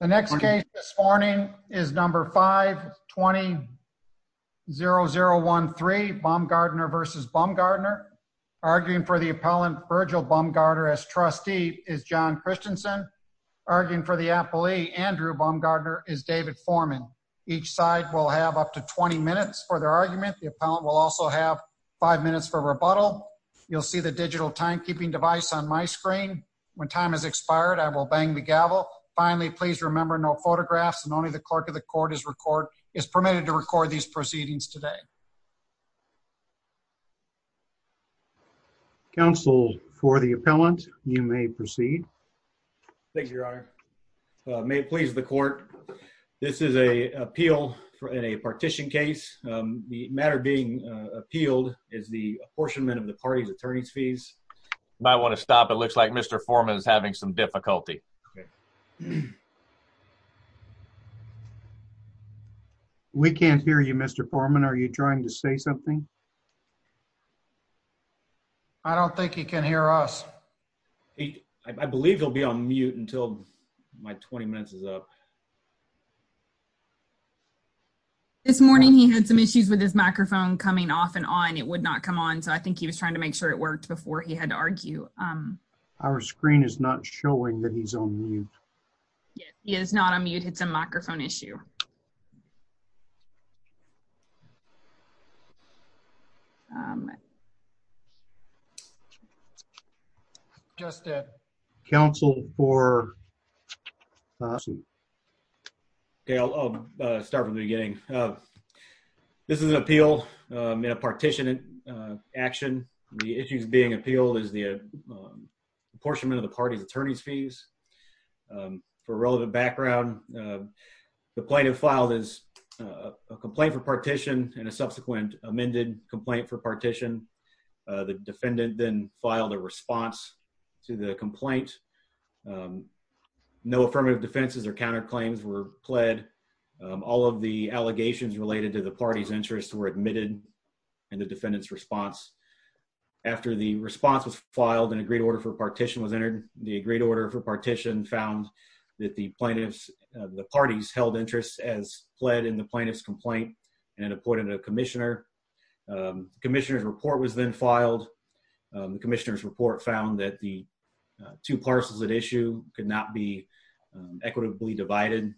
The next case this morning is number 5-20-0013 Bumgarner v. Bumgarner. Arguing for the appellant Virgil Bumgarner as trustee is John Christensen. Arguing for the appellee Andrew Bumgarner is David Foreman. Each side will have up to 20 minutes for their argument. The appellant will also have five minutes for rebuttal. You'll see the digital timekeeping device on my screen. When time has expired, I will bang the gavel. Finally, please remember no photographs and only the clerk of the court is permitted to record these proceedings today. Counsel for the appellant, you may proceed. Thank you, Your Honor. May it please the court, this is an appeal in a partition case. The matter being appealed is the You might want to stop. It looks like Mr. Foreman is having some difficulty. We can't hear you, Mr. Foreman. Are you trying to say something? I don't think he can hear us. I believe he'll be on mute until my 20 minutes is up. This morning, he had some issues with his microphone coming off and on. It would not come on. So I think he was trying to make sure it worked before he had to argue. Our screen is not showing that he's on mute. He is not on mute. It's a microphone issue. Just counsel for. I'll start from the beginning. This is an appeal in a partition action. The issues being appealed is the apportionment of the party's attorney's fees. For relevant background, the plaintiff filed a complaint for partition and a subsequent amended complaint for partition. The defendant then filed a response to the complaint. No affirmative defenses or counterclaims were pled. All of the allegations related to the party's interests were admitted in the defendant's response. After the response was filed, an agreed order for partition was entered. The agreed order for partition found that the parties held interests as pled in the plaintiff's complaint and appointed a commissioner. The commissioner's report was then filed. The commissioner's report found that the two parcels at issue could not be equitably divided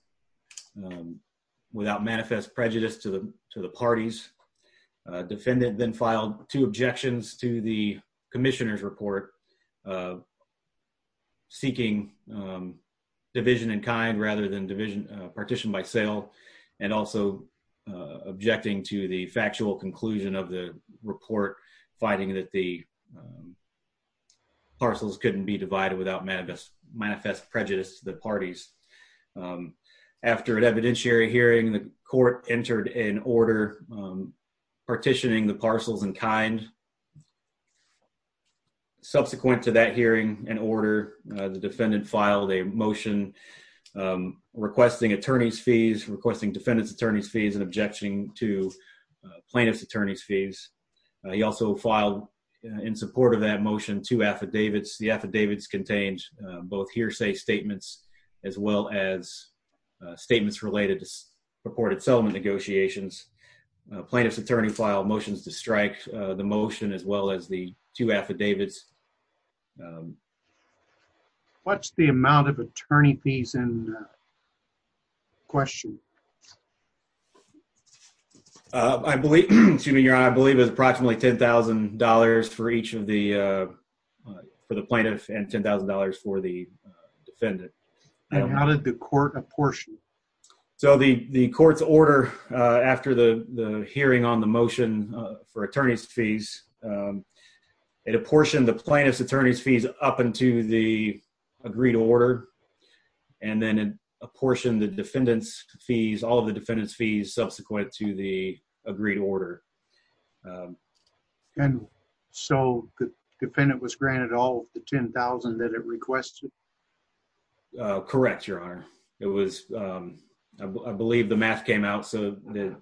without manifest prejudice to the parties. The defendant then filed two objections to the commissioner's report seeking division in kind rather than partition by sale and also objecting to the factual conclusion of the report finding that the parcels couldn't be divided without manifest prejudice to the parties. After an evidentiary hearing, the court entered an order partitioning the parcels in kind. Subsequent to that hearing and order, the defendant filed a motion requesting attorney's fees, requesting defendant's attorney's fees, and objecting to plaintiff's attorney's fees. He also filed in support of that motion two affidavits. The affidavits contained both hearsay statements as well as statements related to purported settlement negotiations. Plaintiff's attorney filed motions to strike the motion as well as two affidavits. What's the amount of attorney fees in question? I believe it was approximately $10,000 for each of the plaintiff and $10,000 for the defendant. How did the court apportion? The court's order after the hearing on the motion for attorney's fees, it apportioned the plaintiff's attorney's fees up into the agreed order and then apportioned the defendant's fees, all of the defendant's fees subsequent to the agreed order. The defendant was granted all of the $10,000 that it requested? Correct, your honor. It was, I believe the math came out so that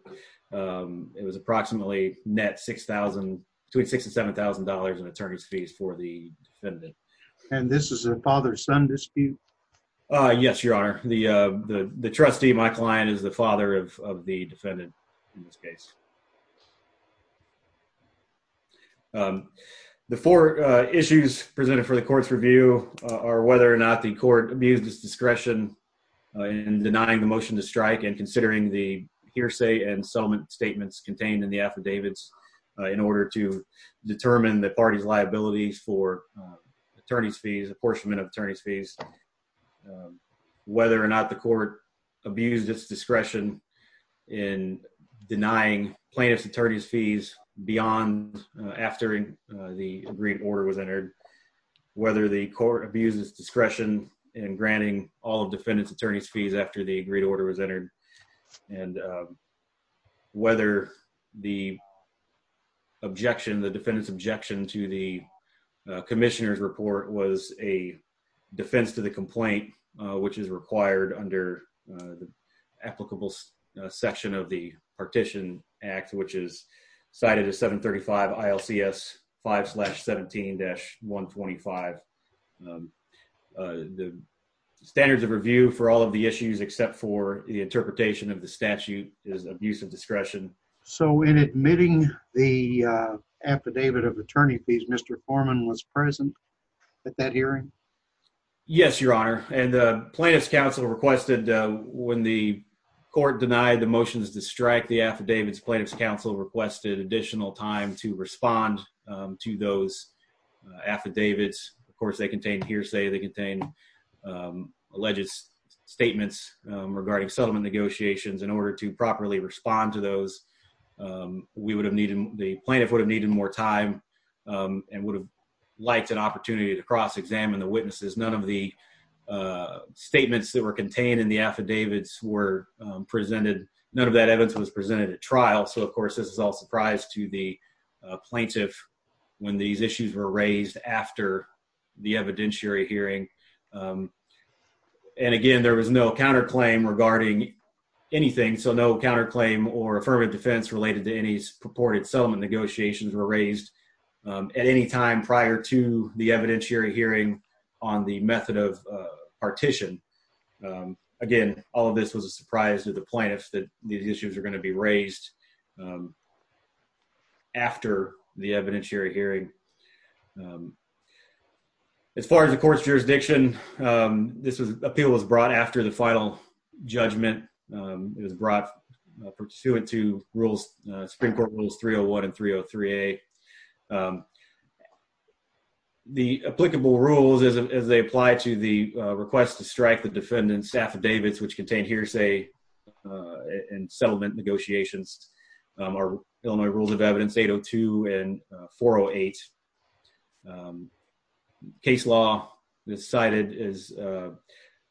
it was approximately net $6,000, between $6,000 and $7,000 in attorney's fees for the defendant. And this is a father-son dispute? Yes, your honor. The trustee, my client, is the father of the defendant in this case. The four issues presented for the court's review are whether or not the court abused its discretion in denying the motion to strike and considering the hearsay and settlement statements contained in the affidavits in order to determine the party's liabilities for attorney's fees, apportionment of attorney's fees, whether or not the court abused its discretion in denying plaintiff's attorney's fees beyond after the agreed order was entered, whether the court abused its discretion in granting all of defendant's attorney's fees after the agreed order was entered, and whether the objection, the defendant's objection to the commissioner's report was a defense to the complaint, which is required under the applicable section of the partition act, which is cited as 735 ILCS 5-17-125. The standards of review for all of the issues, except for the interpretation of the statute, is abuse of discretion. So in admitting the affidavit of attorney fees, Mr. Foreman was present at that hearing? Yes, your honor. And the plaintiff's counsel requested when the court denied the motions to strike the affidavits, plaintiff's counsel requested additional time to respond to those affidavits. Of course, they contained hearsay, they contained alleged statements regarding settlement negotiations. In order to properly respond to those, the plaintiff would have needed more time and would have liked an opportunity to cross-examine the witnesses. None of the statements that were contained in the affidavits were presented, none of that evidence was presented at trial, so of course this is all a surprise to the plaintiff when these issues were raised after the evidentiary hearing. And again, there was no counterclaim regarding anything, so no counterclaim or affirmative defense related to any purported settlement negotiations were raised at any time prior to the evidentiary hearing on the method of partition. Again, all of this was a surprise to the plaintiffs that these issues were going to be raised after the evidentiary hearing. As far as the court's jurisdiction, this appeal was brought after the final judgment, it was brought pursuant to rules, Supreme Court Rules 301 and 303A. The applicable rules as they apply to the request to strike the defendant's affidavits, which contain hearsay and settlement negotiations, are Illinois Rules of Evidence 802 and 408. Case law, as cited,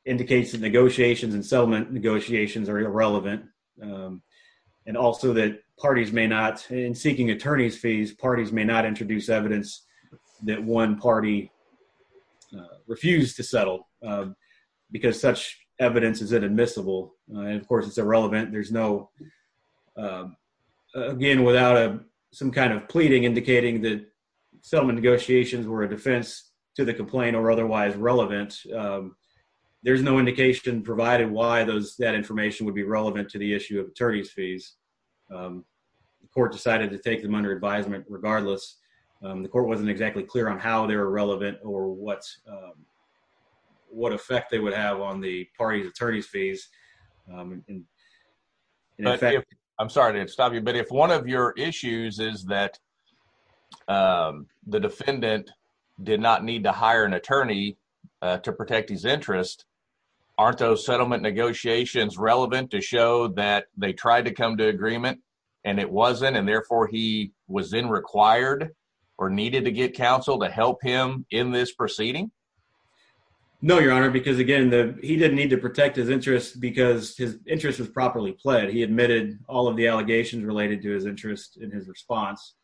indicates that negotiations and settlement negotiations are irrelevant, and also that parties may not, in seeking attorney's fees, parties may not introduce evidence that one party refused to settle because such evidence is inadmissible. Of course, it's irrelevant. There's no, again, without some kind of pleading indicating that settlement negotiations were a defense to the complaint or otherwise relevant, there's no indication provided why that information would be relevant to the issue of attorney's fees. The court decided to take them under advisement regardless. The court wasn't exactly clear on how they were relevant or what effect they would have on the party's attorney's fees. I'm sorry to stop you, but if one of your issues is that the defendant did not need to hire an attorney to protect his interest, aren't those settlement negotiations relevant to show that they tried to come to agreement and it wasn't, and therefore he was then required or needed to get counsel to help him in this proceeding? No, your honor, because again, he didn't need to protect his interest because his interest was properly pled. He admitted all of the allegations related to his interest in his response.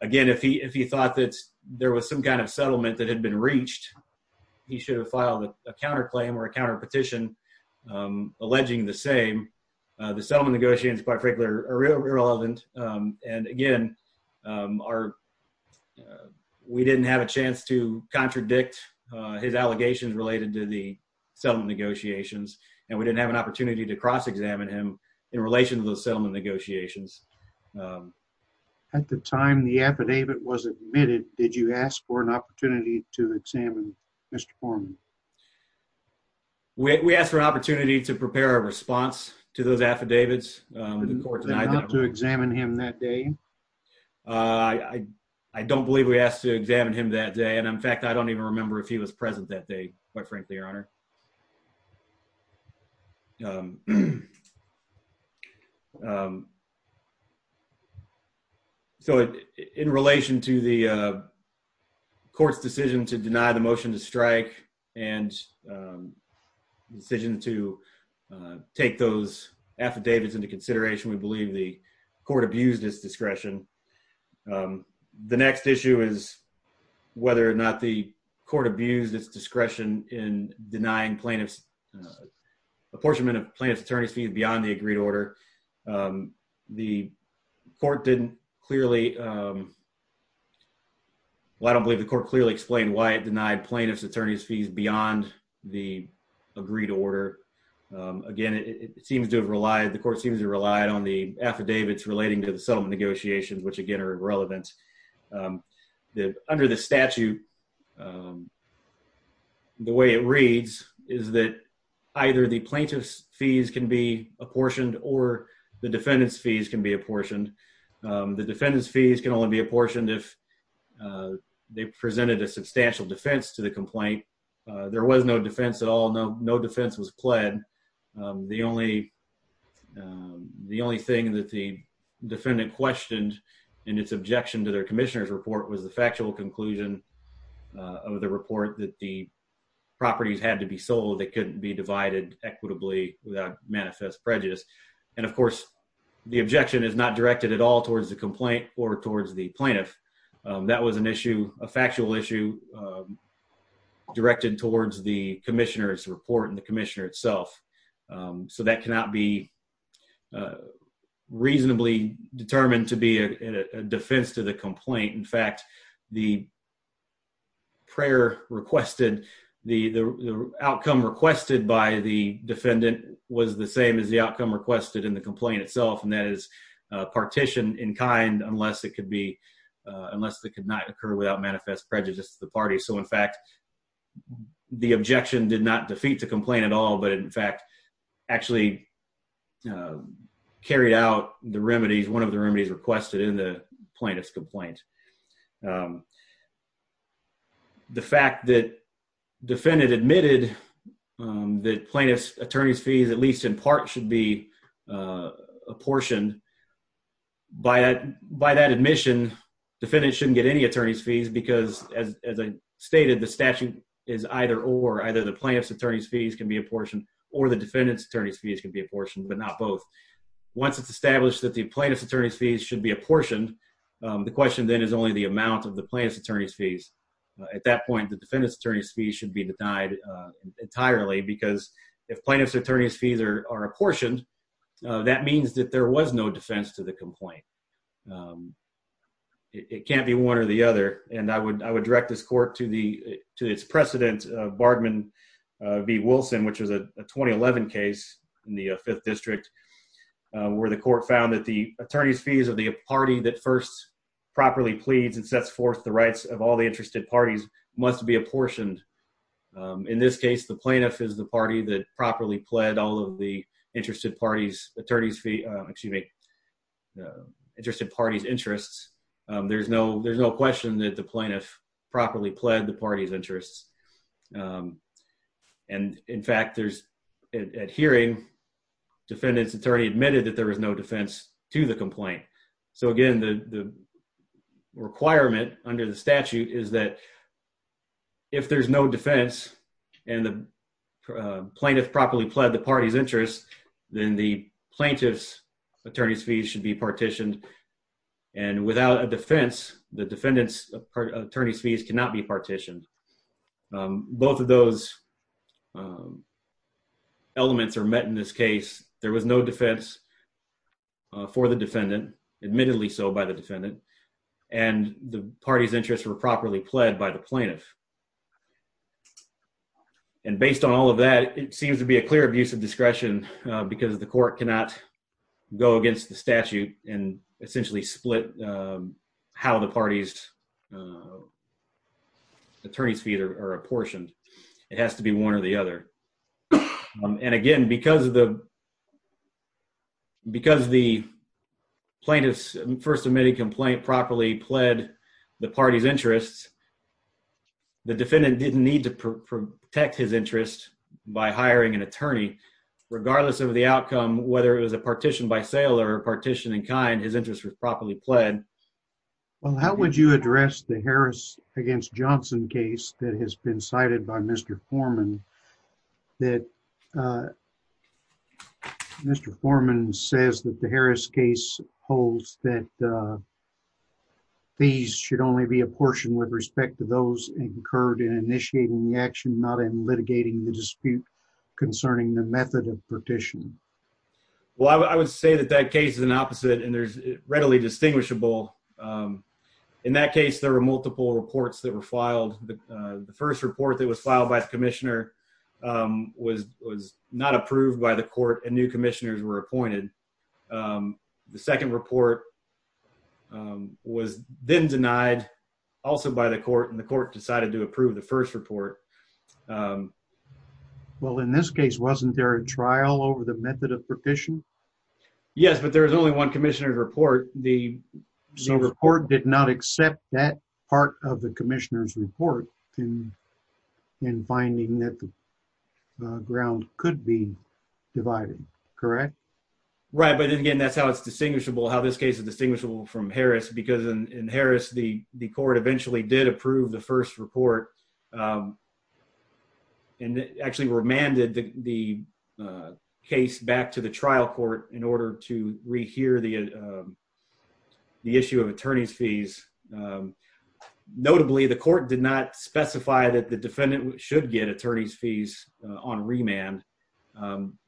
Again, if he thought that there was some kind of settlement that had been reached, he should have filed a counterclaim or a counterpetition alleging the same. The settlement negotiations, by particular, are irrelevant. And again, we didn't have a chance to contradict his allegations related to the settlement negotiations, and we didn't have an opportunity to cross-examine him in relation to those settlement negotiations. At the time the affidavit was admitted, did you ask for an opportunity to examine Mr. Forman? We asked for an opportunity to prepare a response to those affidavits. Not to examine him that day? I don't believe we asked to examine him that day, and in fact, I don't even remember if he was present that day, quite frankly, your honor. So, in relation to the court's decision to deny the motion to strike and the decision to take those affidavits into consideration, we believe the court abused its discretion. The next issue is whether or not the court abused its discretion in determining whether or not plaintiff's, apportionment of plaintiff's attorney's fees beyond the agreed order. The court didn't clearly, well, I don't believe the court clearly explained why it denied plaintiff's attorney's fees beyond the agreed order. Again, it seems to have relied, the court seems to have relied on the affidavits relating to the settlement negotiations, which again are irrelevant. Under the statute, the way it reads is that either the plaintiff's fees can be apportioned or the defendant's fees can be apportioned. The defendant's fees can only be apportioned if they presented a substantial defense to the complaint. There was no defense at all. No defense was pled. The only thing that the defendant questioned in its objection to their commissioner's report was the factual conclusion of the report that the properties had to be sold. They couldn't be divided equitably without manifest prejudice. And of course, the objection is not directed at all towards the complaint or towards the plaintiff. That was an issue, a factual issue that was directed towards the commissioner's report and the commissioner itself. So that cannot be reasonably determined to be a defense to the complaint. In fact, the prayer requested, the outcome requested by the defendant was the same as the outcome requested in the complaint itself. And that is partitioned in kind unless it could be, unless it could not occur without manifest prejudice to the party. So in fact, the objection did not defeat the complaint at all, but in fact, actually carried out the remedies, one of the remedies requested in the plaintiff's complaint. The fact that defendant admitted that plaintiff's attorney's fees, at least in part, should be apportioned, by that admission, defendant shouldn't get any attorney's fees because as I stated, the statute is either or, either the plaintiff's attorney's fees can be apportioned or the defendant's attorney's fees can be apportioned, but not both. Once it's established that the plaintiff's attorney's fees should be apportioned, the question then is only the amount of the plaintiff's attorney's fees. At that point, the defendant's attorney's fees should be denied entirely because if plaintiff's attorney's fees are apportioned, that means that there was no defense to the complaint. It can't be one or the other, and I would direct this court to the, to its precedent, Bardman v. Wilson, which was a 2011 case in the fifth district, where the court found that the attorney's fees of the party that first properly pleads and sets forth the rights of all the interested parties must be apportioned. In this case, the plaintiff is the party that properly pled all of the interested party's attorney's fee, excuse me, interested party's interests. There's no, there's no question that the plaintiff properly pled the party's interests, and in fact, there's, at hearing, defendant's attorney admitted that there was no defense to the complaint. So again, the requirement under the statute is that if there's no defense and the plaintiff properly pled the party's interests, then the plaintiff's attorney's fees should be partitioned, and without a defense, the defendant's attorney's fees cannot be partitioned. Both of those elements are met in this case. There was no defense. For the defendant, admittedly so by the defendant, and the party's interests were properly pled by the plaintiff, and based on all of that, it seems to be a clear abuse of discretion because the court cannot go against the statute and essentially split how the party's attorney's fees are apportioned. It has to be one or the other, and again, because of the, because the plaintiff's first admitted complaint properly pled the party's interests, the defendant didn't need to protect his interest by hiring an attorney, regardless of the outcome, whether it was a partition by sale or partition in kind, his interest was properly pled. Well, how would you address the Harris against Johnson case that has been cited by Mr. Foreman that Mr. Foreman says that the Harris case holds that fees should only be apportioned with respect to those incurred in initiating the action, not in litigating the dispute concerning the method of partition? Well, I would say that that case is an opposite, and there's readily distinguishable. In that case, there were multiple reports that were filed. The first report that was filed by commissioner was not approved by the court and new commissioners were appointed. The second report was then denied also by the court, and the court decided to approve the first report. Well, in this case, wasn't there a trial over the method of partition? Yes, but there was only one commissioner's report. The report did not accept that part of the commissioner's report in finding that the ground could be divided, correct? Right, but again, that's how it's distinguishable, how this case is distinguishable from Harris, because in Harris, the court eventually did approve the first report and actually remanded the case back to the trial court in order to rehear the issue of attorney's fees. Notably, the court did not specify that the defendant should get attorney's fees on remand. From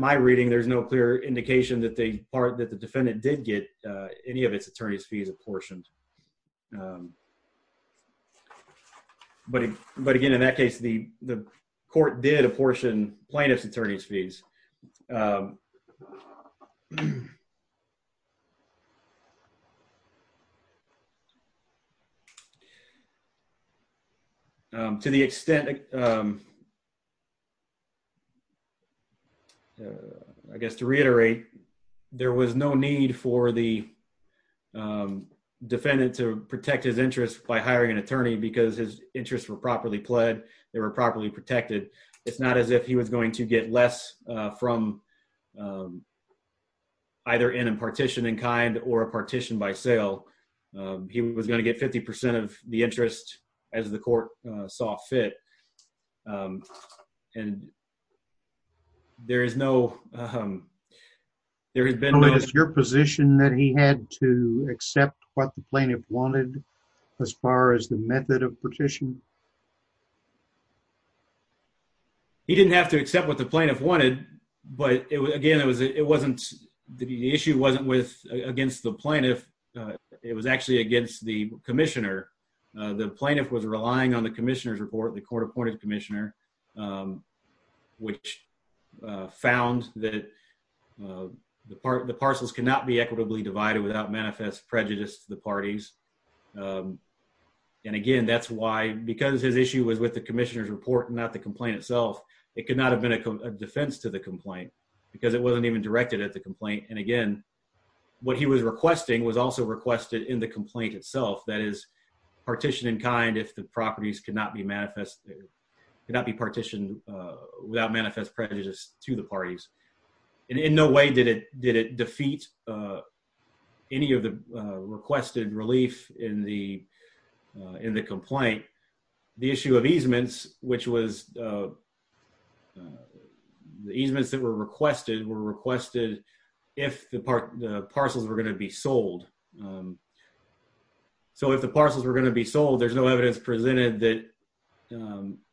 my reading, there's no clear indication that the defendant did get any of its attorney's fees apportioned, but again, in that case, the court did apportion plaintiff's attorney's fees. To the extent, I guess to reiterate, there was no need for the defendant to protect his interests by hiring an attorney because his interests were properly pled, they were properly protected. It's not as if he was going to get less from either in a partition in kind or a he was going to get 50 percent of the interest as the court saw fit, and there is no, there has been, is your position that he had to accept what the plaintiff wanted as far as the method of partition? He didn't have to accept what the plaintiff wanted, but again, it wasn't, the issue wasn't against the plaintiff. It was actually against the commissioner. The plaintiff was relying on the commissioner's report, the court-appointed commissioner, which found that the parcels cannot be equitably divided without manifest prejudice to the parties, and again, that's why, because his issue was with the commissioner's report and not the complaint itself, it could not have been a defense to the complaint because it wasn't even directed at the complaint, and again, what he was requesting was also requested in the complaint itself, that is, partition in kind if the properties could not be manifested, could not be partitioned without manifest prejudice to the parties, and in no way did it defeat any of the requested relief in the complaint. The issue of parcels were going to be sold, so if the parcels were going to be sold, there's no evidence presented that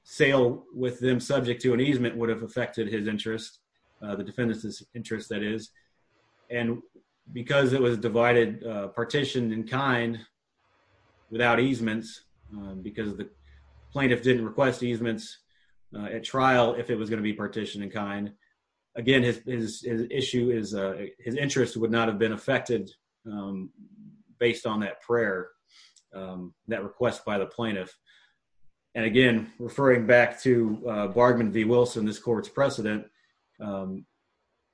sale with them subject to an easement would have affected his interest, the defendant's interest, that is, and because it was divided, partitioned in kind without easements because the plaintiff didn't request easements at trial if it was going to be partitioned in kind, again, his issue is, his interest would not have been affected based on that prayer, that request by the plaintiff, and again, referring back to Bardman v. Wilson, this court's precedent,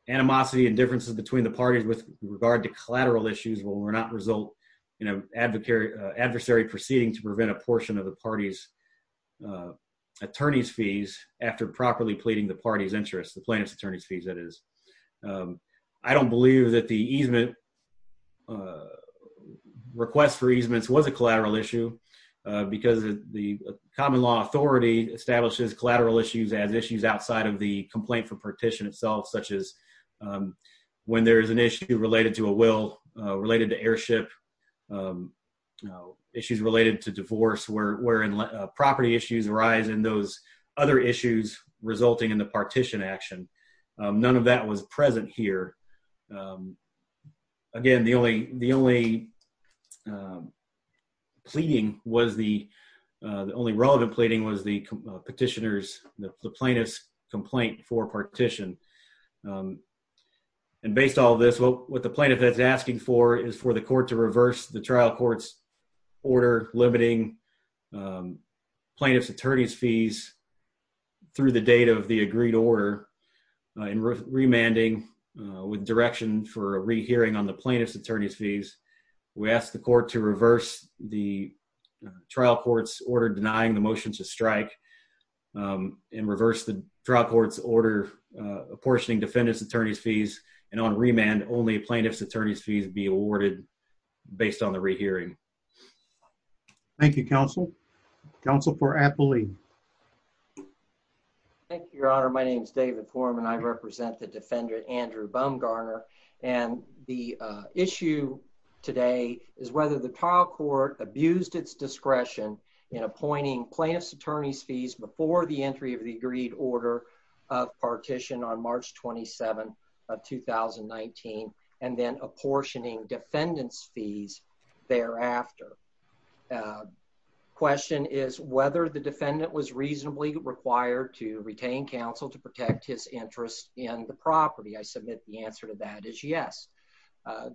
animosity and differences between the parties with regard to collateral issues will not result in an adversary proceeding to prevent a portion of the party's attorney's fees after properly pleading the party's interest, the plaintiff's attorney's fees, that is. I don't believe that the easement, request for easements was a collateral issue because the common law authority establishes collateral issues as issues outside of the complaint for partition itself, such as when there is an issue related to a will, related to heirship, issues related to divorce, where property issues arise, and those other issues resulting in the partition action. None of that was present here. Again, the only pleading was the, the only relevant pleading was the petitioner's, the plaintiff's complaint for partition, and based on all this, what the plaintiff is asking for is for the court to reverse the trial court's order limiting plaintiff's attorney's fees through the date of the agreed order in remanding with direction for a rehearing on the plaintiff's attorney's fees. We ask the court to reverse the trial court's order denying the motion to strike and reverse the trial court's order apportioning defendant's attorney's fees, and on remand, only plaintiff's attorney's fees be awarded based on the rehearing. Thank you, counsel. Counsel for Appley. Thank you, your honor. My name is David Foreman. I represent the defendant, Andrew Bumgarner, and the issue today is whether the trial court abused its discretion in appointing plaintiff's order of partition on March 27th of 2019 and then apportioning defendant's fees thereafter. Question is whether the defendant was reasonably required to retain counsel to protect his interest in the property. I submit the answer to that is yes.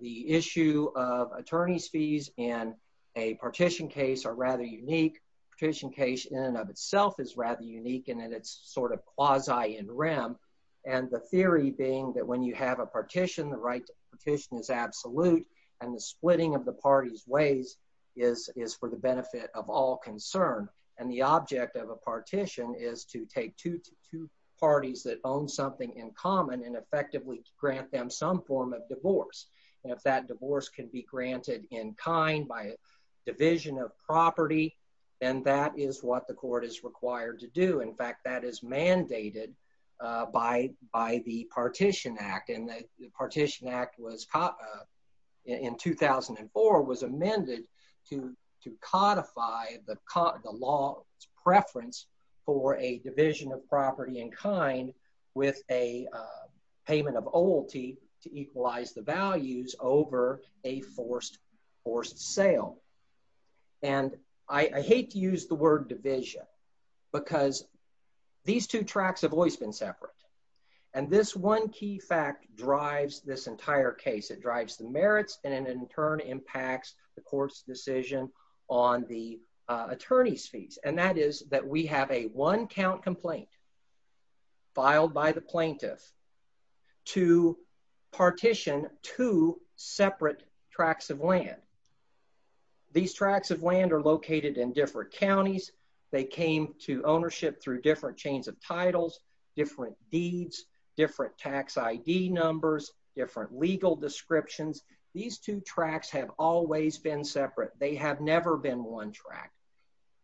The issue of attorney's fees in a partition case are rather unique. Partition case in and of itself is rather unique in that sort of quasi in rem, and the theory being that when you have a partition, the right partition is absolute, and the splitting of the parties ways is for the benefit of all concern, and the object of a partition is to take two parties that own something in common and effectively grant them some form of divorce, and if that divorce can be granted in kind by a division of property, then that is what the court is required to do. In fact, that is mandated by the Partition Act, and the Partition Act in 2004 was amended to codify the law's preference for a division of property. I hate to use the word division because these two tracks have always been separate, and this one key fact drives this entire case. It drives the merits and in turn impacts the court's decision on the attorney's fees, and that is that we have a one-count complaint filed by the plaintiff to partition two separate tracks of land. These tracks of land are located in different counties. They came to ownership through different chains of titles, different deeds, different tax ID numbers, different legal descriptions. These two tracks have always been separate. They have never been one track.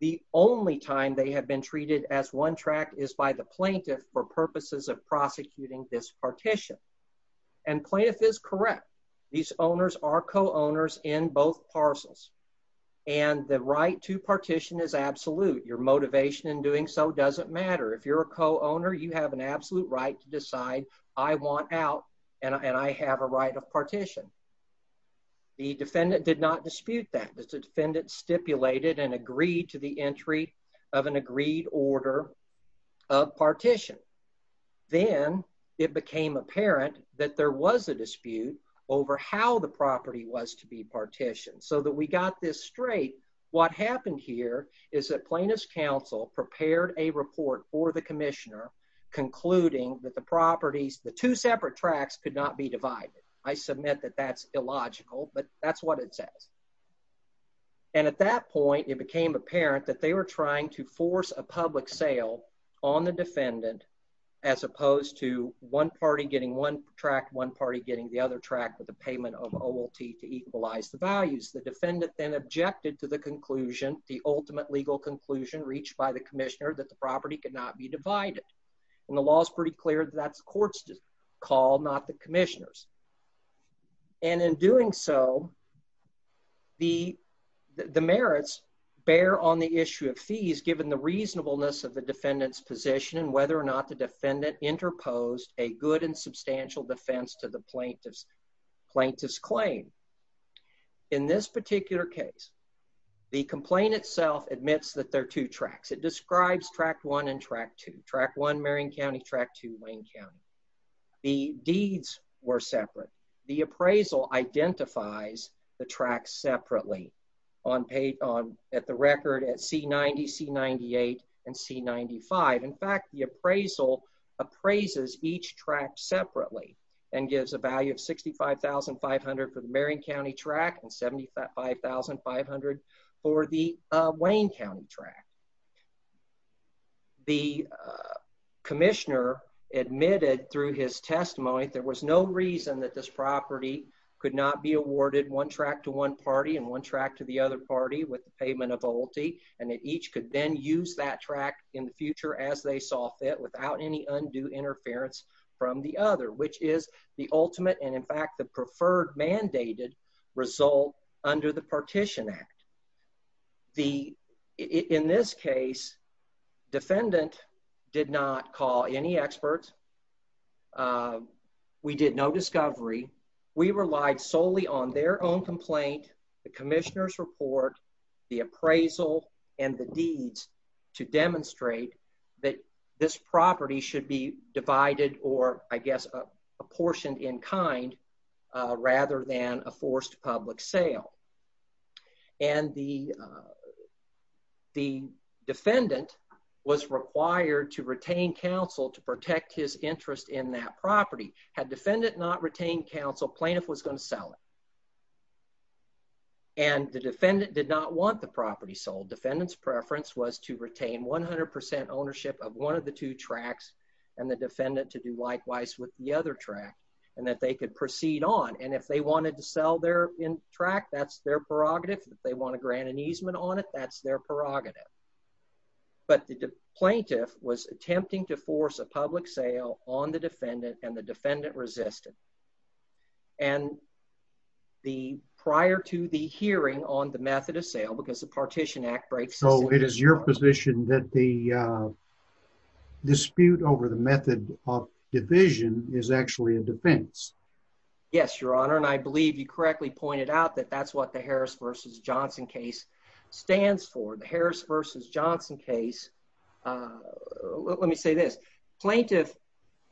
The only time they have been treated as one track is by the plaintiff for purposes of prosecuting this partition, and plaintiff is correct. These owners are co-owners in both parcels, and the right to partition is absolute. Your motivation in doing so doesn't matter. If you're a co-owner, you have an absolute right to decide, I want out, and I have a right of partition. The defendant did not dispute that. The defendant stipulated and agreed to the entry of an agreed order of partition. Then it became apparent that there was a dispute over how the property was to be partitioned, so that we got this straight. What happened here is that plaintiff's counsel prepared a report for the commissioner concluding that the properties, the two separate tracks, could not be divided. I submit that that's illogical, but that's what it says, and at that point it became apparent that they were trying to force a public sale on the defendant as opposed to one party getting one track, one party getting the other track with the payment of OLT to equalize the values. The defendant then objected to the conclusion, the ultimate legal conclusion reached by the commissioner, that the property could not be divided, and the law is pretty clear that that's given the reasonableness of the defendant's position and whether or not the defendant interposed a good and substantial defense to the plaintiff's claim. In this particular case, the complaint itself admits that there are two tracks. It describes track one and track two. Track one, Marion County, track two, Wayne County. The deeds were separate. The appraisal identifies the tracks separately at the record at C90, C98, and C95. In fact, the appraisal appraises each track separately and gives a value of $65,500 for the Marion County track and $75,500 for the Wayne County track. The commissioner admitted through his testimony there was no reason that this property could not be awarded one track to one party and one track to the other party with the payment of OLT, and that each could then use that track in the future as they saw fit without any undue interference from the other, which is the ultimate, and in fact, the preferred mandated result under the Partition Act. In this case, defendant did not call any experts. We did no discovery. We relied solely on their own complaint, the commissioner's report, the appraisal, and the deeds to demonstrate that this property should be divided or, I guess, apportioned in kind rather than a forced public sale, and the defendant was required to retain counsel to protect his interest in that property. Had defendant not retained counsel, plaintiff was going to sell it, and the defendant did not want the property sold. Defendant's preference was to retain 100 ownership of one of the two tracks and the defendant to do likewise with the other track and that they could proceed on, and if they wanted to sell their track, that's their prerogative. If they want to grant an easement on it, that's their prerogative. But the plaintiff was attempting to force a public sale on the defendant, and the defendant resisted, and the prior to the hearing on the method of sale, because the Partition Act breaks. So, it is your position that the dispute over the method of division is actually a defense? Yes, your honor, and I believe you correctly pointed out that that's what the Harris versus Johnson case, let me say this, plaintiff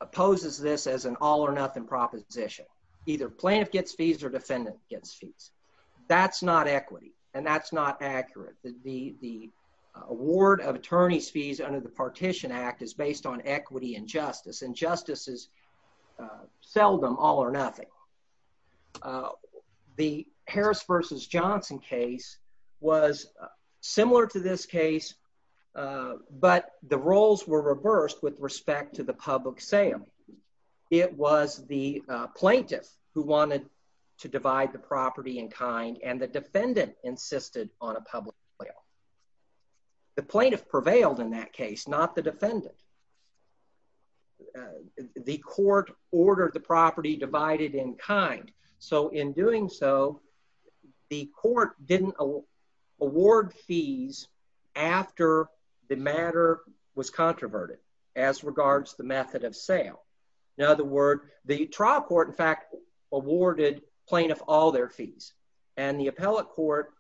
opposes this as an all-or-nothing proposition. Either plaintiff gets fees or defendant gets fees. That's not equity, and that's not accurate. The award of attorney's fees under the Partition Act is based on equity and justice, and justice is but the roles were reversed with respect to the public sale. It was the plaintiff who wanted to divide the property in kind, and the defendant insisted on a public sale. The plaintiff prevailed in that case, not the defendant. The court ordered the property divided in kind, so in doing so, the court didn't award fees after the matter was controverted as regards the method of sale. In other words, the trial court, in fact, awarded plaintiff all their fees, and the appellate court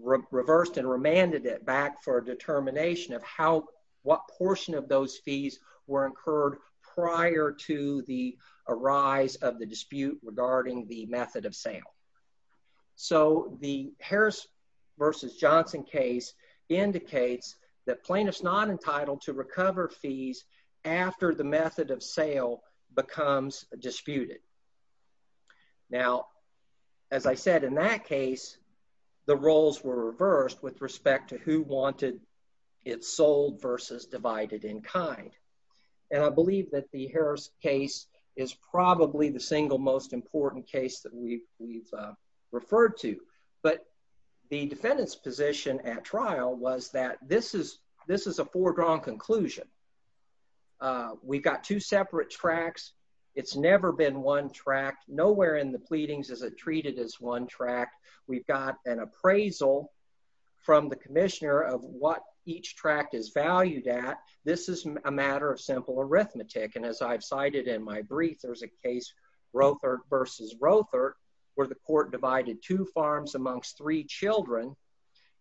reversed and remanded it back for a determination of how, what portion of those fees were incurred prior to the that plaintiff's not entitled to recover fees after the method of sale becomes disputed. Now, as I said, in that case, the roles were reversed with respect to who wanted it sold versus divided in kind, and I believe that the Harris case is probably the single important case that we've referred to, but the defendant's position at trial was that this is a foregone conclusion. We've got two separate tracts. It's never been one tract. Nowhere in the pleadings is it treated as one tract. We've got an appraisal from the commissioner of what each tract is valued at. This is a matter of simple arithmetic, and as I've cited in my versus Rothert, where the court divided two farms amongst three children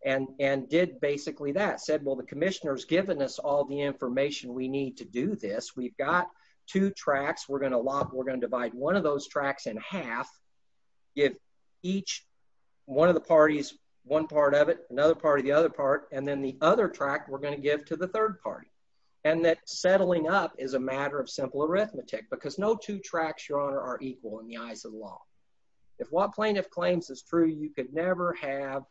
and did basically that, said, well, the commissioner's given us all the information we need to do this. We've got two tracts. We're going to lock, we're going to divide one of those tracts in half, give each one of the parties, one part of it, another part of the other part, and then the other tract we're going to give to the third party, and that settling up is a matter of simple in the eyes of the law. If what plaintiff claims is true, you could never have,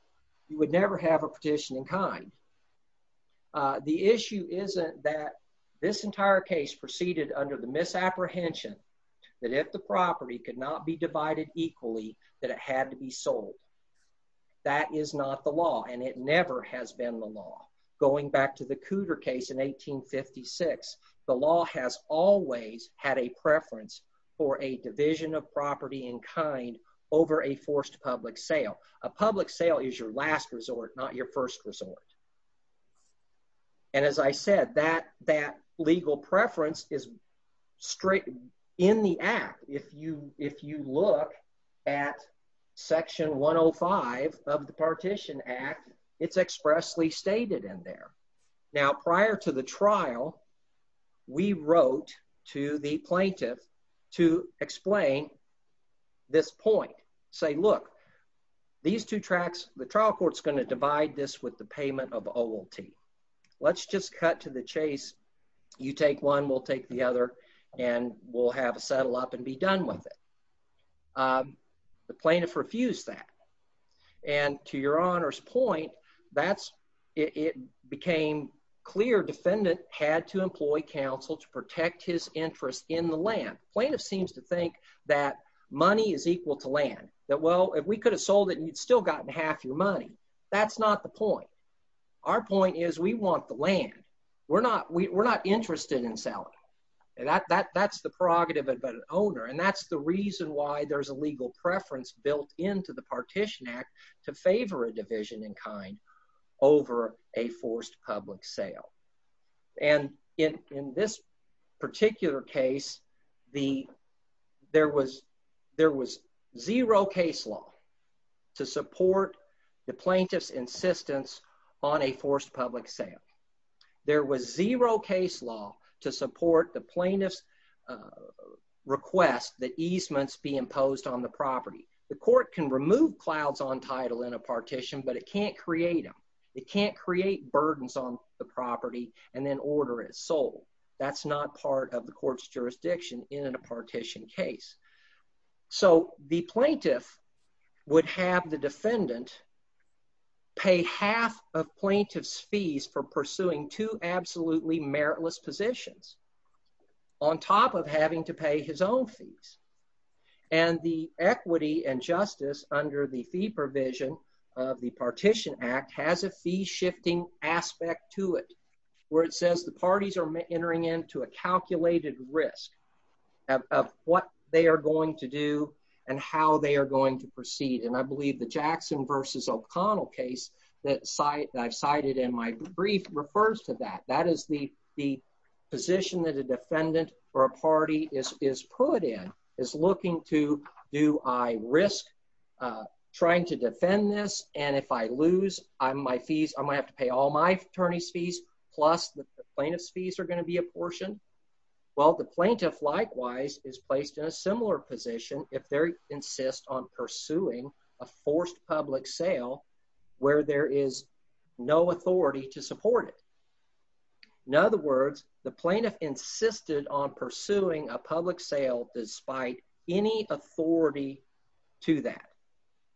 you would never have a petition in kind. The issue isn't that this entire case proceeded under the misapprehension that if the property could not be divided equally, that it had to be sold. That is not the law, and it never has been the law. Going back to the Cooter case in 1856, the law has always had a preference for a division of property in kind over a forced public sale. A public sale is your last resort, not your first resort, and as I said, that legal preference is straight in the act. If you look at section 105 of the Partition Act, it's expressly stated in there. Now, prior to the trial, we wrote to the plaintiff to explain this point, say, look, these two tracts, the trial court's going to divide this with the payment of OLT. Let's just cut to the chase. You take one, we'll take the other, and we'll have a settle up and be done with it. The plaintiff refused that, and to your honor's point, it became clear defendant had to employ counsel to protect his interest in the land. Plaintiff seems to think that money is equal to land, that well, if we could have sold it and you'd still gotten half your money. That's not the point. Our point is we want the land. We're not interested in selling. That's the prerogative of an owner, and that's the reason why there's a legal preference built into the Partition Act to favor a division in kind over a forced public sale, and in this particular case, there was zero case law to support the plaintiff's insistence on a forced public sale. There was zero case law to support the plaintiff's request that easements be imposed on the property. The court can remove clouds on title in a partition, but it can't create them. It can't create burdens on the property and then order it sold. That's not part of the court's jurisdiction in a partition case, so the plaintiff would have the defendant pay half of plaintiff's fees for pursuing two absolutely meritless positions on top of having to pay his own fees, and the equity and justice under the fee provision of the Partition Act has a fee shifting aspect to it where it says the parties are entering into a calculated risk of what they are going to do and how they are going to proceed, and I O'Connell case that I've cited in my brief refers to that. That is the position that a defendant or a party is put in, is looking to do I risk trying to defend this, and if I lose my fees, I'm going to have to pay all my attorney's fees plus the plaintiff's fees are going to be a portion. Well, the plaintiff likewise is placed in a similar position if they insist on pursuing a forced public sale where there is no authority to support it. In other words, the plaintiff insisted on pursuing a public sale despite any authority to that,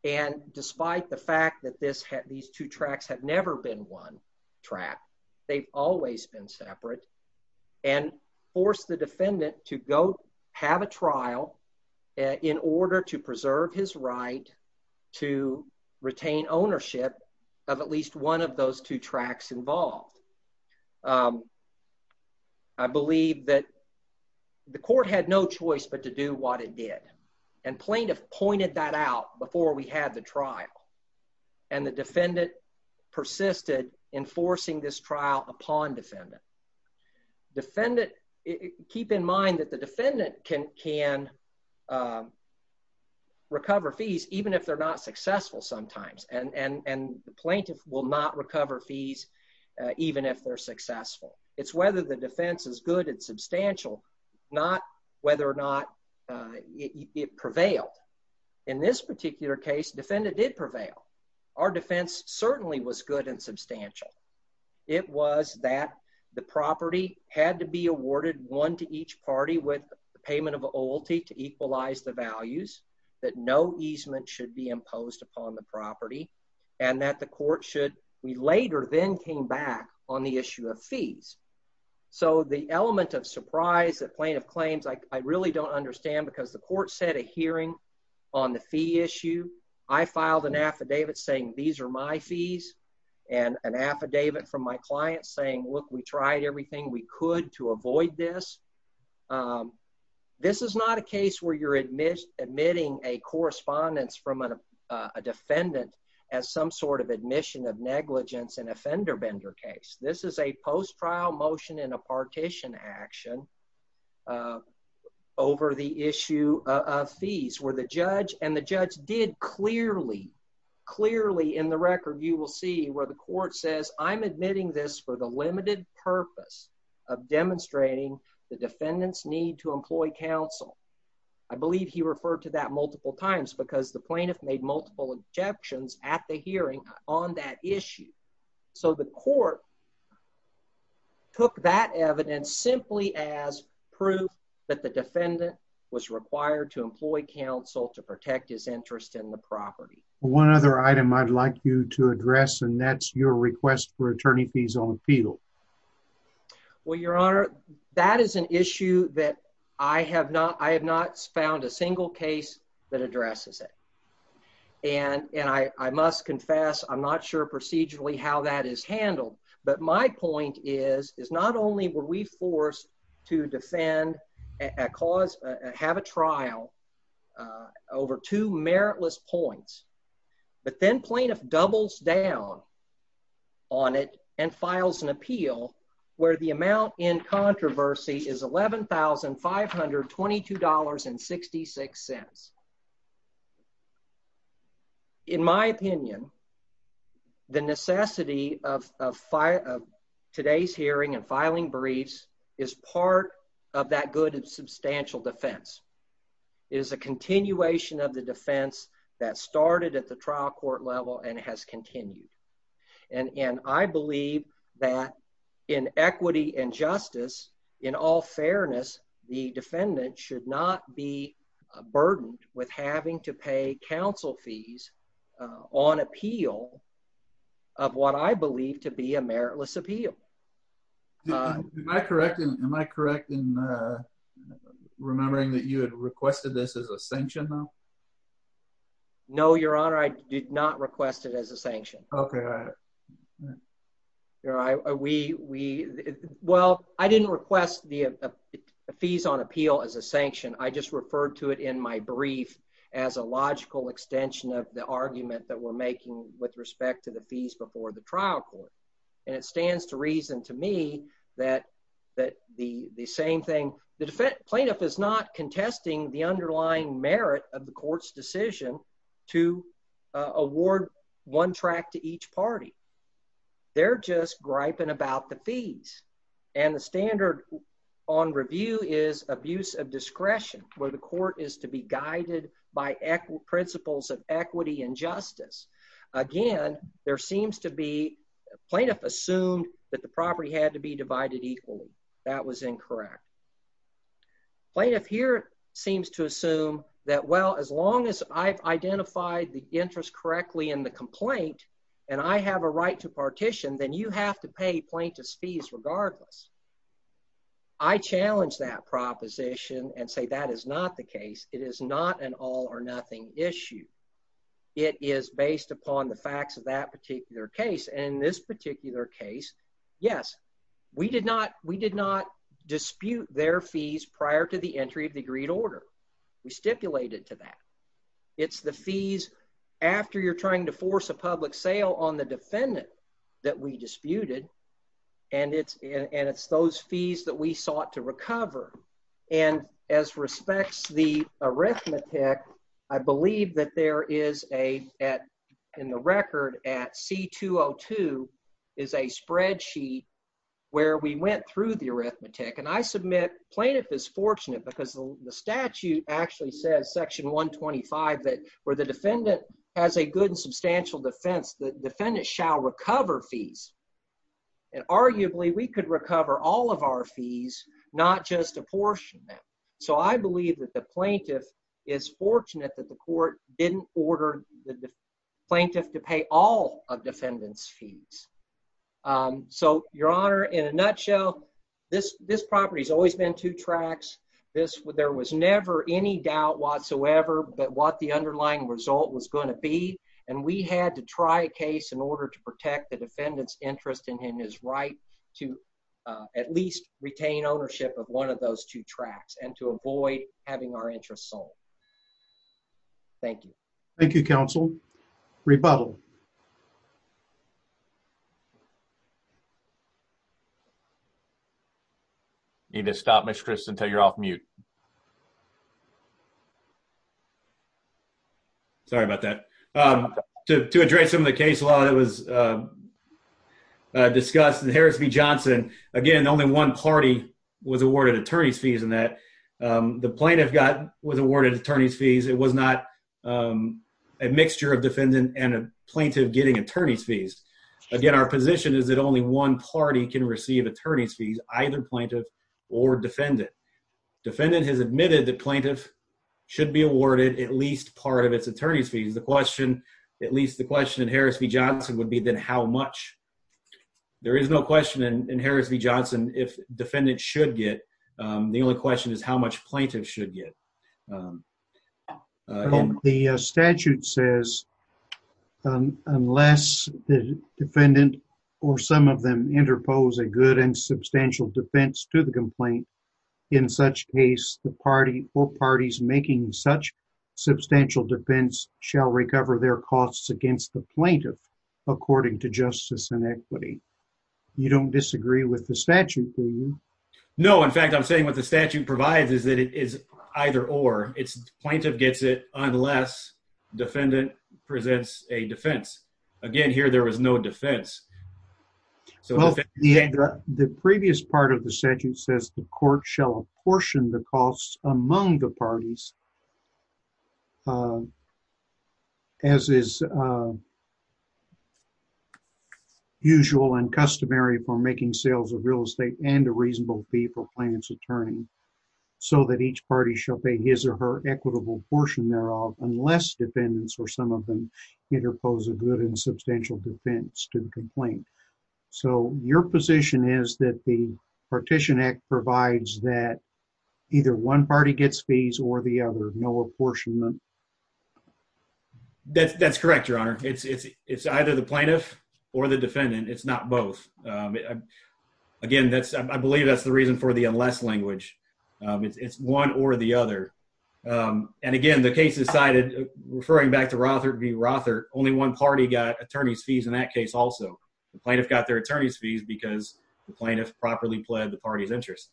and despite the fact that this had these two tracks have never been one track, they've always been separate, and force the to retain ownership of at least one of those two tracks involved. I believe that the court had no choice but to do what it did, and plaintiff pointed that out before we had the trial, and the defendant persisted enforcing this trial upon defendant. Defendant, keep in mind that the defendant can recover fees even if they're not successful sometimes, and the plaintiff will not recover fees even if they're successful. It's whether the defense is good and substantial, not whether or not it prevailed. In this particular case, defendant did prevail. Our defense certainly was good and substantial. It was that the property had to be awarded one to each party with the payment of a loyalty to equalize the values, that no easement should be imposed upon the property, and that the court should, we later then came back on the issue of fees. So the element of surprise that plaintiff claims, I really don't understand because the court set a hearing on the fee issue. I filed an affidavit saying these are my fees, and an affidavit from my client saying look, we tried everything we could to avoid this. This is not a case where you're admitting a correspondence from a defendant as some sort of admission of negligence in a fender bender case. This is a post-trial motion in a partition action over the issue of fees where the judge, and the judge did clearly, clearly in the record, you will see where the court says I'm admitting this for the limited purpose of demonstrating the defendant's need to employ counsel. I believe he referred to that multiple times because the plaintiff made multiple objections at the hearing on that issue. So the court took that evidence simply as proof that the defendant was required to employ counsel to protect his interest in the property. One other item I'd like you to address, and that's your request for attorney fees on appeal. Well your honor, that is an issue that I have not, I have not found a single case that addresses it, and I must confess I'm not sure procedurally how that is handled, but my point is is not only were we forced to defend a cause, have a trial over two meritless points, but then plaintiff doubles down on it and files an appeal where the amount in controversy is $11,522.66. In my opinion, the necessity of today's hearing and filing briefs is part of that good and substantial defense. It is a continuation of the defense that started at the trial court level and has continued, and I believe that in equity and justice, in all fairness, the defendant should not be burdened with having to pay counsel fees on appeal of what I believe to be a meritless appeal. Am I correct in remembering that you had requested this as a sanction though? No your honor, I did not request it as a sanction. Okay. Your honor, we, well I didn't request the fees on appeal as a sanction, I just referred to it in my brief as a logical extension of the argument that we're making with respect to the fees before the trial court, and it stands to reason to me that the same thing, the plaintiff is not They're just griping about the fees, and the standard on review is abuse of discretion where the court is to be guided by principles of equity and justice. Again, there seems to be, plaintiff assumed that the property had to be divided equally. That was incorrect. Plaintiff here seems to assume that well as long as I've identified the interest correctly in the complaint, and I have a right to partition, then you have to pay plaintiff's fees regardless. I challenge that proposition and say that is not the case. It is not an all or nothing issue. It is based upon the facts of that particular case, and in this particular case, yes, we did not, we did not dispute their fees prior to the entry of order. We stipulated to that. It's the fees after you're trying to force a public sale on the defendant that we disputed, and it's those fees that we sought to recover, and as respects the arithmetic, I believe that there is a, in the record, at C-202 is a spreadsheet where we went through the arithmetic, and I submit plaintiff is fortunate because the statute actually says, section 125, that where the defendant has a good and substantial defense, the defendant shall recover fees, and arguably, we could recover all of our fees, not just apportion them, so I believe that the plaintiff is fortunate that the court didn't order the plaintiff to pay all of defendant's fees. So, your honor, in a nutshell, this property has always been two tracks. There was never any doubt whatsoever that what the underlying result was going to be, and we had to try a case in order to protect the defendant's interest in his right to at least retain ownership of one of those two tracks and to avoid having our interest sold. Thank you. Thank you, counsel. Rebuttal. Need to stop, Mr. Crist, until you're off mute. Sorry about that. To address some of the case law that was discussed in Harris v. Johnson, again, only one party was awarded attorney's fees in that. The plaintiff got, was awarded attorney's fees. It was not a mixture of defendant and a plaintiff getting attorney's fees. Again, our position is that only one party can receive attorney's fees, either plaintiff or defendant. Defendant has admitted that plaintiff should be awarded at least part of its attorney's fees. The question, at least the question in Harris v. Johnson would be, then, how much? There is no question in Harris v. Johnson if defendant should get. The only question is, much plaintiff should get. The statute says, unless the defendant or some of them interpose a good and substantial defense to the complaint, in such case, the party or parties making such substantial defense shall recover their costs against the plaintiff, according to justice and equity. You don't disagree with the statute, do you? No, in fact, I'm saying what the statute provides is that it is either or. It's plaintiff gets it unless defendant presents a defense. Again, here there was no defense. The previous part of the statute says the court shall apportion the costs among the parties as is usual and customary for making sales of real estate and reasonable fee for plaintiff's attorney, so that each party shall pay his or her equitable portion thereof, unless defendants or some of them interpose a good and substantial defense to the complaint. So, your position is that the partition act provides that either one party gets fees or the other, no apportionment. That's correct, your honor. It's either the plaintiff or the defendant. It's not both. Again, I believe that's the reason for the unless language. It's one or the other. And again, the case decided, referring back to Rothert v. Rothert, only one party got attorney's fees in that case also. The plaintiff got their attorney's fees because the plaintiff properly pled the party's interest,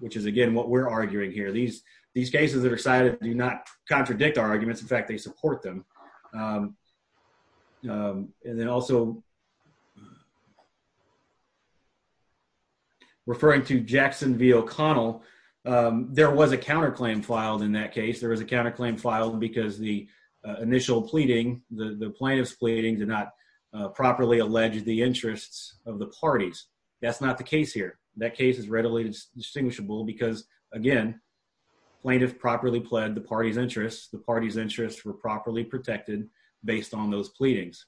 which is, again, what we're arguing here. These cases that are cited do not contradict our arguments. In fact, they support them. And then also, referring to Jackson v. O'Connell, there was a counterclaim filed in that case. There was a counterclaim filed because the initial pleading, the plaintiff's pleadings, did not properly allege the interests of the parties. That's not the case here. That case is readily distinguishable because, again, plaintiff properly pled the party's interests. The party's interests were the plaintiff's.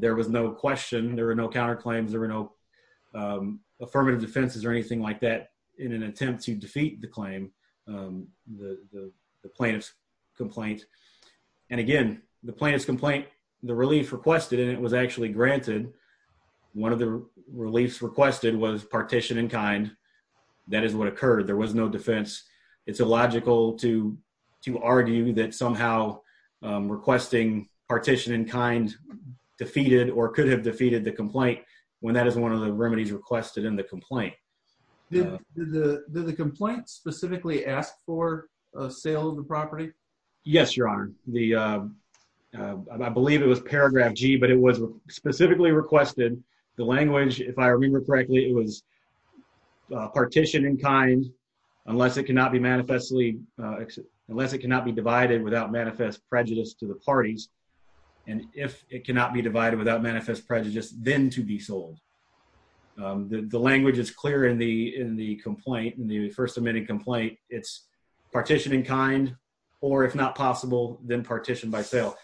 There was no question. There were no counterclaims. There were no affirmative defenses or anything like that in an attempt to defeat the claim, the plaintiff's complaint. And again, the plaintiff's complaint, the relief requested, and it was actually granted, one of the reliefs requested was partition in kind. That is what occurred. There was no defense. It's illogical to argue that somehow requesting partition in kind defeated or could have defeated the complaint when that is one of the remedies requested in the complaint. Did the complaint specifically ask for a sale of the property? Yes, Your Honor. I believe it was paragraph G, but it was specifically requested. The language, if I remember correctly, it was partition in kind unless it cannot be manifestly, and if it cannot be divided without manifest prejudice, then to be sold. The language is clear in the complaint, in the first admitting complaint. It's partition in kind or, if not possible, then partition by sale.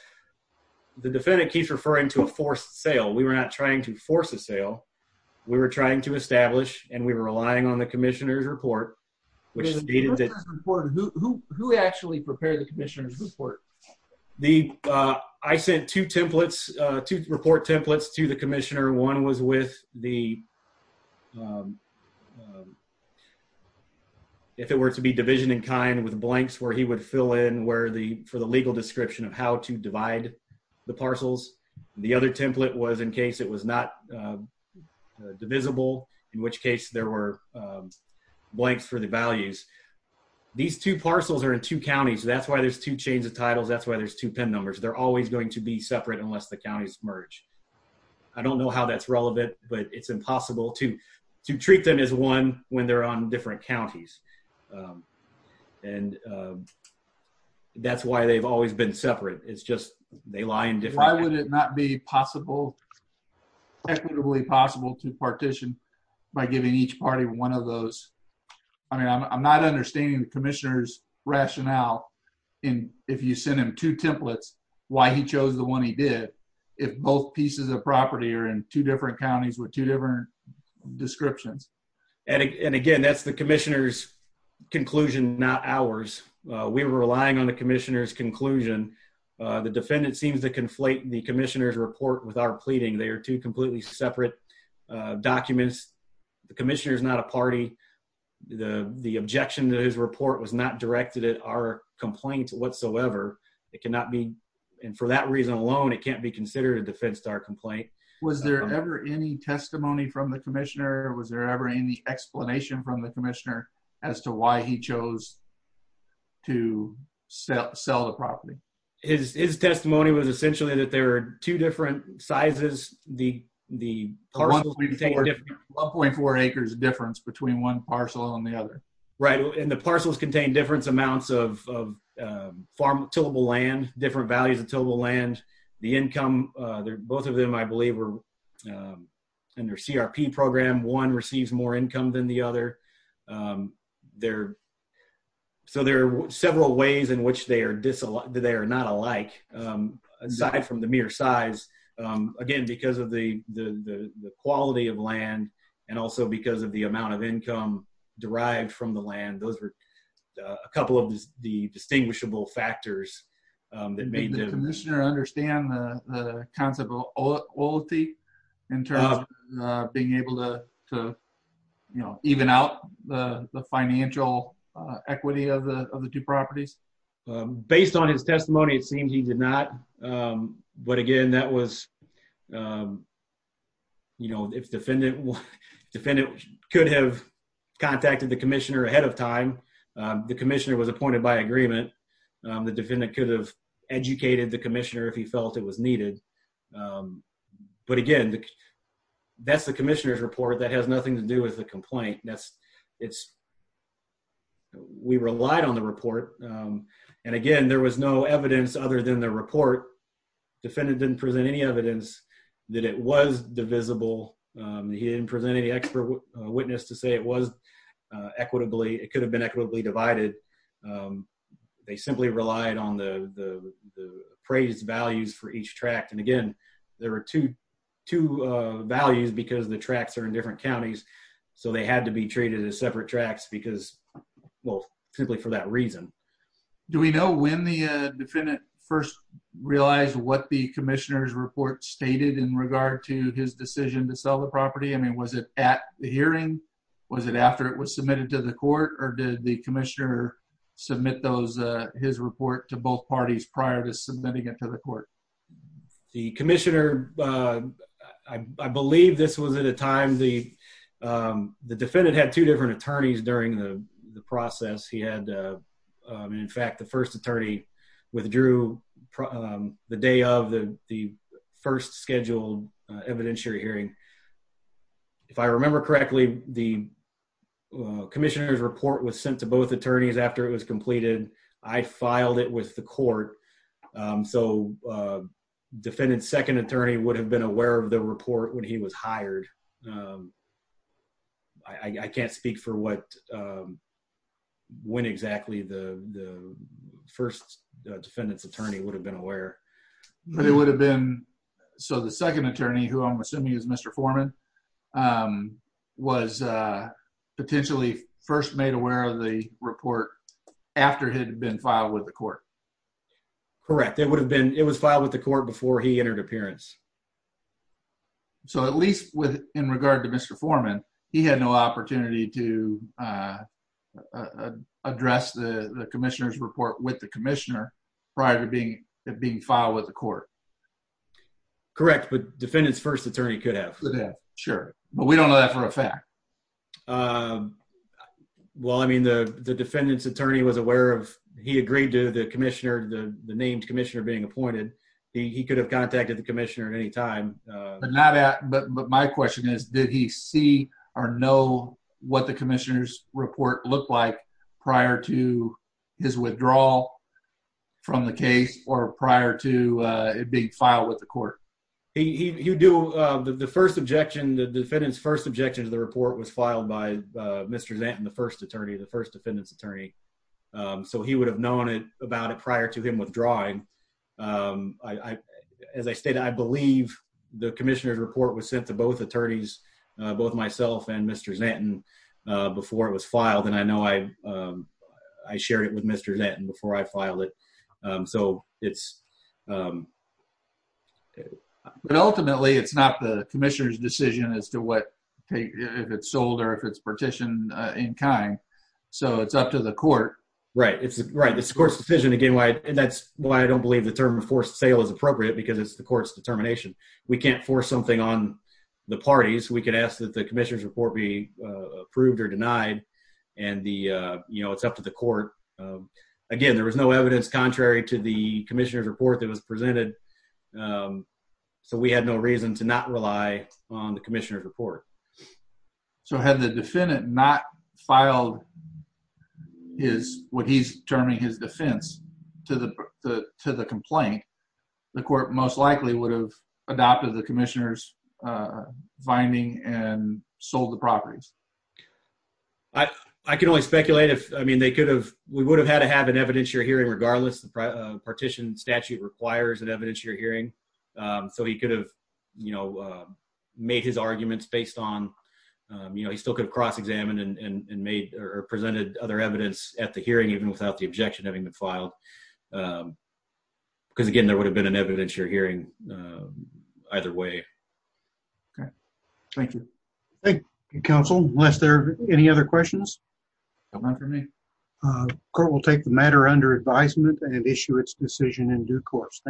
The defendant keeps referring to a forced sale. We were not trying to force a sale. We were trying to establish and we were relying on the commissioner's report. Who actually prepared the commissioner's report? I sent two templates, two report templates to the commissioner. One was with the, if it were to be division in kind with blanks where he would fill in for the legal description of how to divide the parcels. The other template was in case it was not divisible, in which case there were blanks for the values. These two parcels are in two counties. That's why there's two chains of titles. That's why there's two PIN numbers. They're always going to be separate unless the counties merge. I don't know how that's relevant, but it's impossible to treat them as one when they're on different counties, and that's why they've always been separate. Why would it not be possible, equitably possible, to partition by giving each party one of those? I mean, I'm not understanding the commissioner's rationale if you send him two templates why he chose the one he did if both pieces of property are in two different counties with two different descriptions. Again, that's the commissioner's conclusion, not ours. We were relying on the defendant seems to conflate the commissioner's report with our pleading. They are two completely separate documents. The commissioner is not a party. The objection to his report was not directed at our complaint whatsoever. It cannot be, and for that reason alone, it can't be considered a defense to our complaint. Was there ever any testimony from the commissioner? Was there ever any explanation from the commissioner as to why he chose to sell the property? His testimony was essentially that there are two different sizes. The parcels contain 1.4 acres difference between one parcel and the other. Right, and the parcels contain different amounts of tillable land, different values of tillable land. The income, both of them, I believe, in their CRP program, one receives more income than the other. So there are several ways in which they are not alike, aside from the mere size. Again, because of the quality of land and also because of the amount of income derived from the land, those were a couple of the distinguishable factors that made them. Did the commissioner understand the concept of loyalty in terms of being able to even out the financial equity of the two properties? Based on his testimony, it seems he did not, but again, that was, you know, if the defendant could have contacted the commissioner ahead of if he felt it was needed. But again, that's the commissioner's report. That has nothing to do with the complaint. We relied on the report, and again, there was no evidence other than the report. The defendant didn't present any evidence that it was divisible. He didn't present any expert witness to say it was equitably, it could have been equitably divided. They simply relied on the appraised values for each tract, and again, there are two values because the tracts are in different counties, so they had to be treated as separate tracts because, well, simply for that reason. Do we know when the defendant first realized what the commissioner's report stated in regard to his decision to sell the property? I mean, was it at the hearing? Was it it was submitted to the court, or did the commissioner submit his report to both parties prior to submitting it to the court? The commissioner, I believe this was at a time the defendant had two different attorneys during the process. He had, in fact, the first attorney withdrew the day of the first scheduled evidentiary hearing. If I remember correctly, the commissioner's report was sent to both attorneys after it was completed. I filed it with the court, so defendant's second attorney would have been aware of the report when he was hired. I can't speak for what, when exactly the first defendant's attorney would have been aware. But it would have been, so the second attorney, who I'm assuming is Mr. Foreman, um, was, uh, potentially first made aware of the report after it had been filed with the court. Correct. It would have been, it was filed with the court before he entered appearance. So at least with, in regard to Mr. Foreman, he had no opportunity to, uh, address the commissioner's report with the commissioner prior to being, being filed with the court. Correct. But defendant's first attorney could have. Sure. But we don't know that for a fact. Well, I mean, the defendant's attorney was aware of, he agreed to the commissioner, the named commissioner being appointed. He could have contacted the commissioner at any time. But not at, but my question is, did he see or know what the commissioner's report looked like prior to his withdrawal from the case or prior to it being filed with the court? He would do, the first objection, the defendant's first objection to the report was filed by Mr. Zanten, the first attorney, the first defendant's attorney. So he would have known about it prior to him withdrawing. As I stated, I believe the commissioner's report was sent to both attorneys, both myself and Mr. Zanten, before it was filed. And I know I, I shared it with Mr. Zanten before I filed it. So it's. But ultimately it's not the commissioner's decision as to what, if it's sold or if it's partitioned in kind. So it's up to the court. Right. It's right. It's the court's decision again, why, and that's why I don't believe the term of forced sale is appropriate because it's the court's determination. We can't force something on the parties. We could ask that the commissioner's report be approved or denied and the, you know, it's up to the court. Again, there was no evidence contrary to the commissioner's report that was presented. So we had no reason to not rely on the commissioner's report. So had the defendant not filed his, what he's terming his defense to the, to the complaint, the court most likely would have adopted the commissioner's finding and sold the properties. I can only speculate if, I mean, they could have, we would have had to have an evidentiary hearing, regardless of the partition statute requires an evidentiary hearing. So he could have, you know, made his arguments based on, you know, he still could have cross-examined and made or presented other evidence at the hearing, even without the objection having been filed. Because again, there would have been an evidentiary hearing either way. Okay. Thank you. Thank you counsel. Unless there are any other questions, come on for me. Court will take the matter under advisement and issue its decision in due course.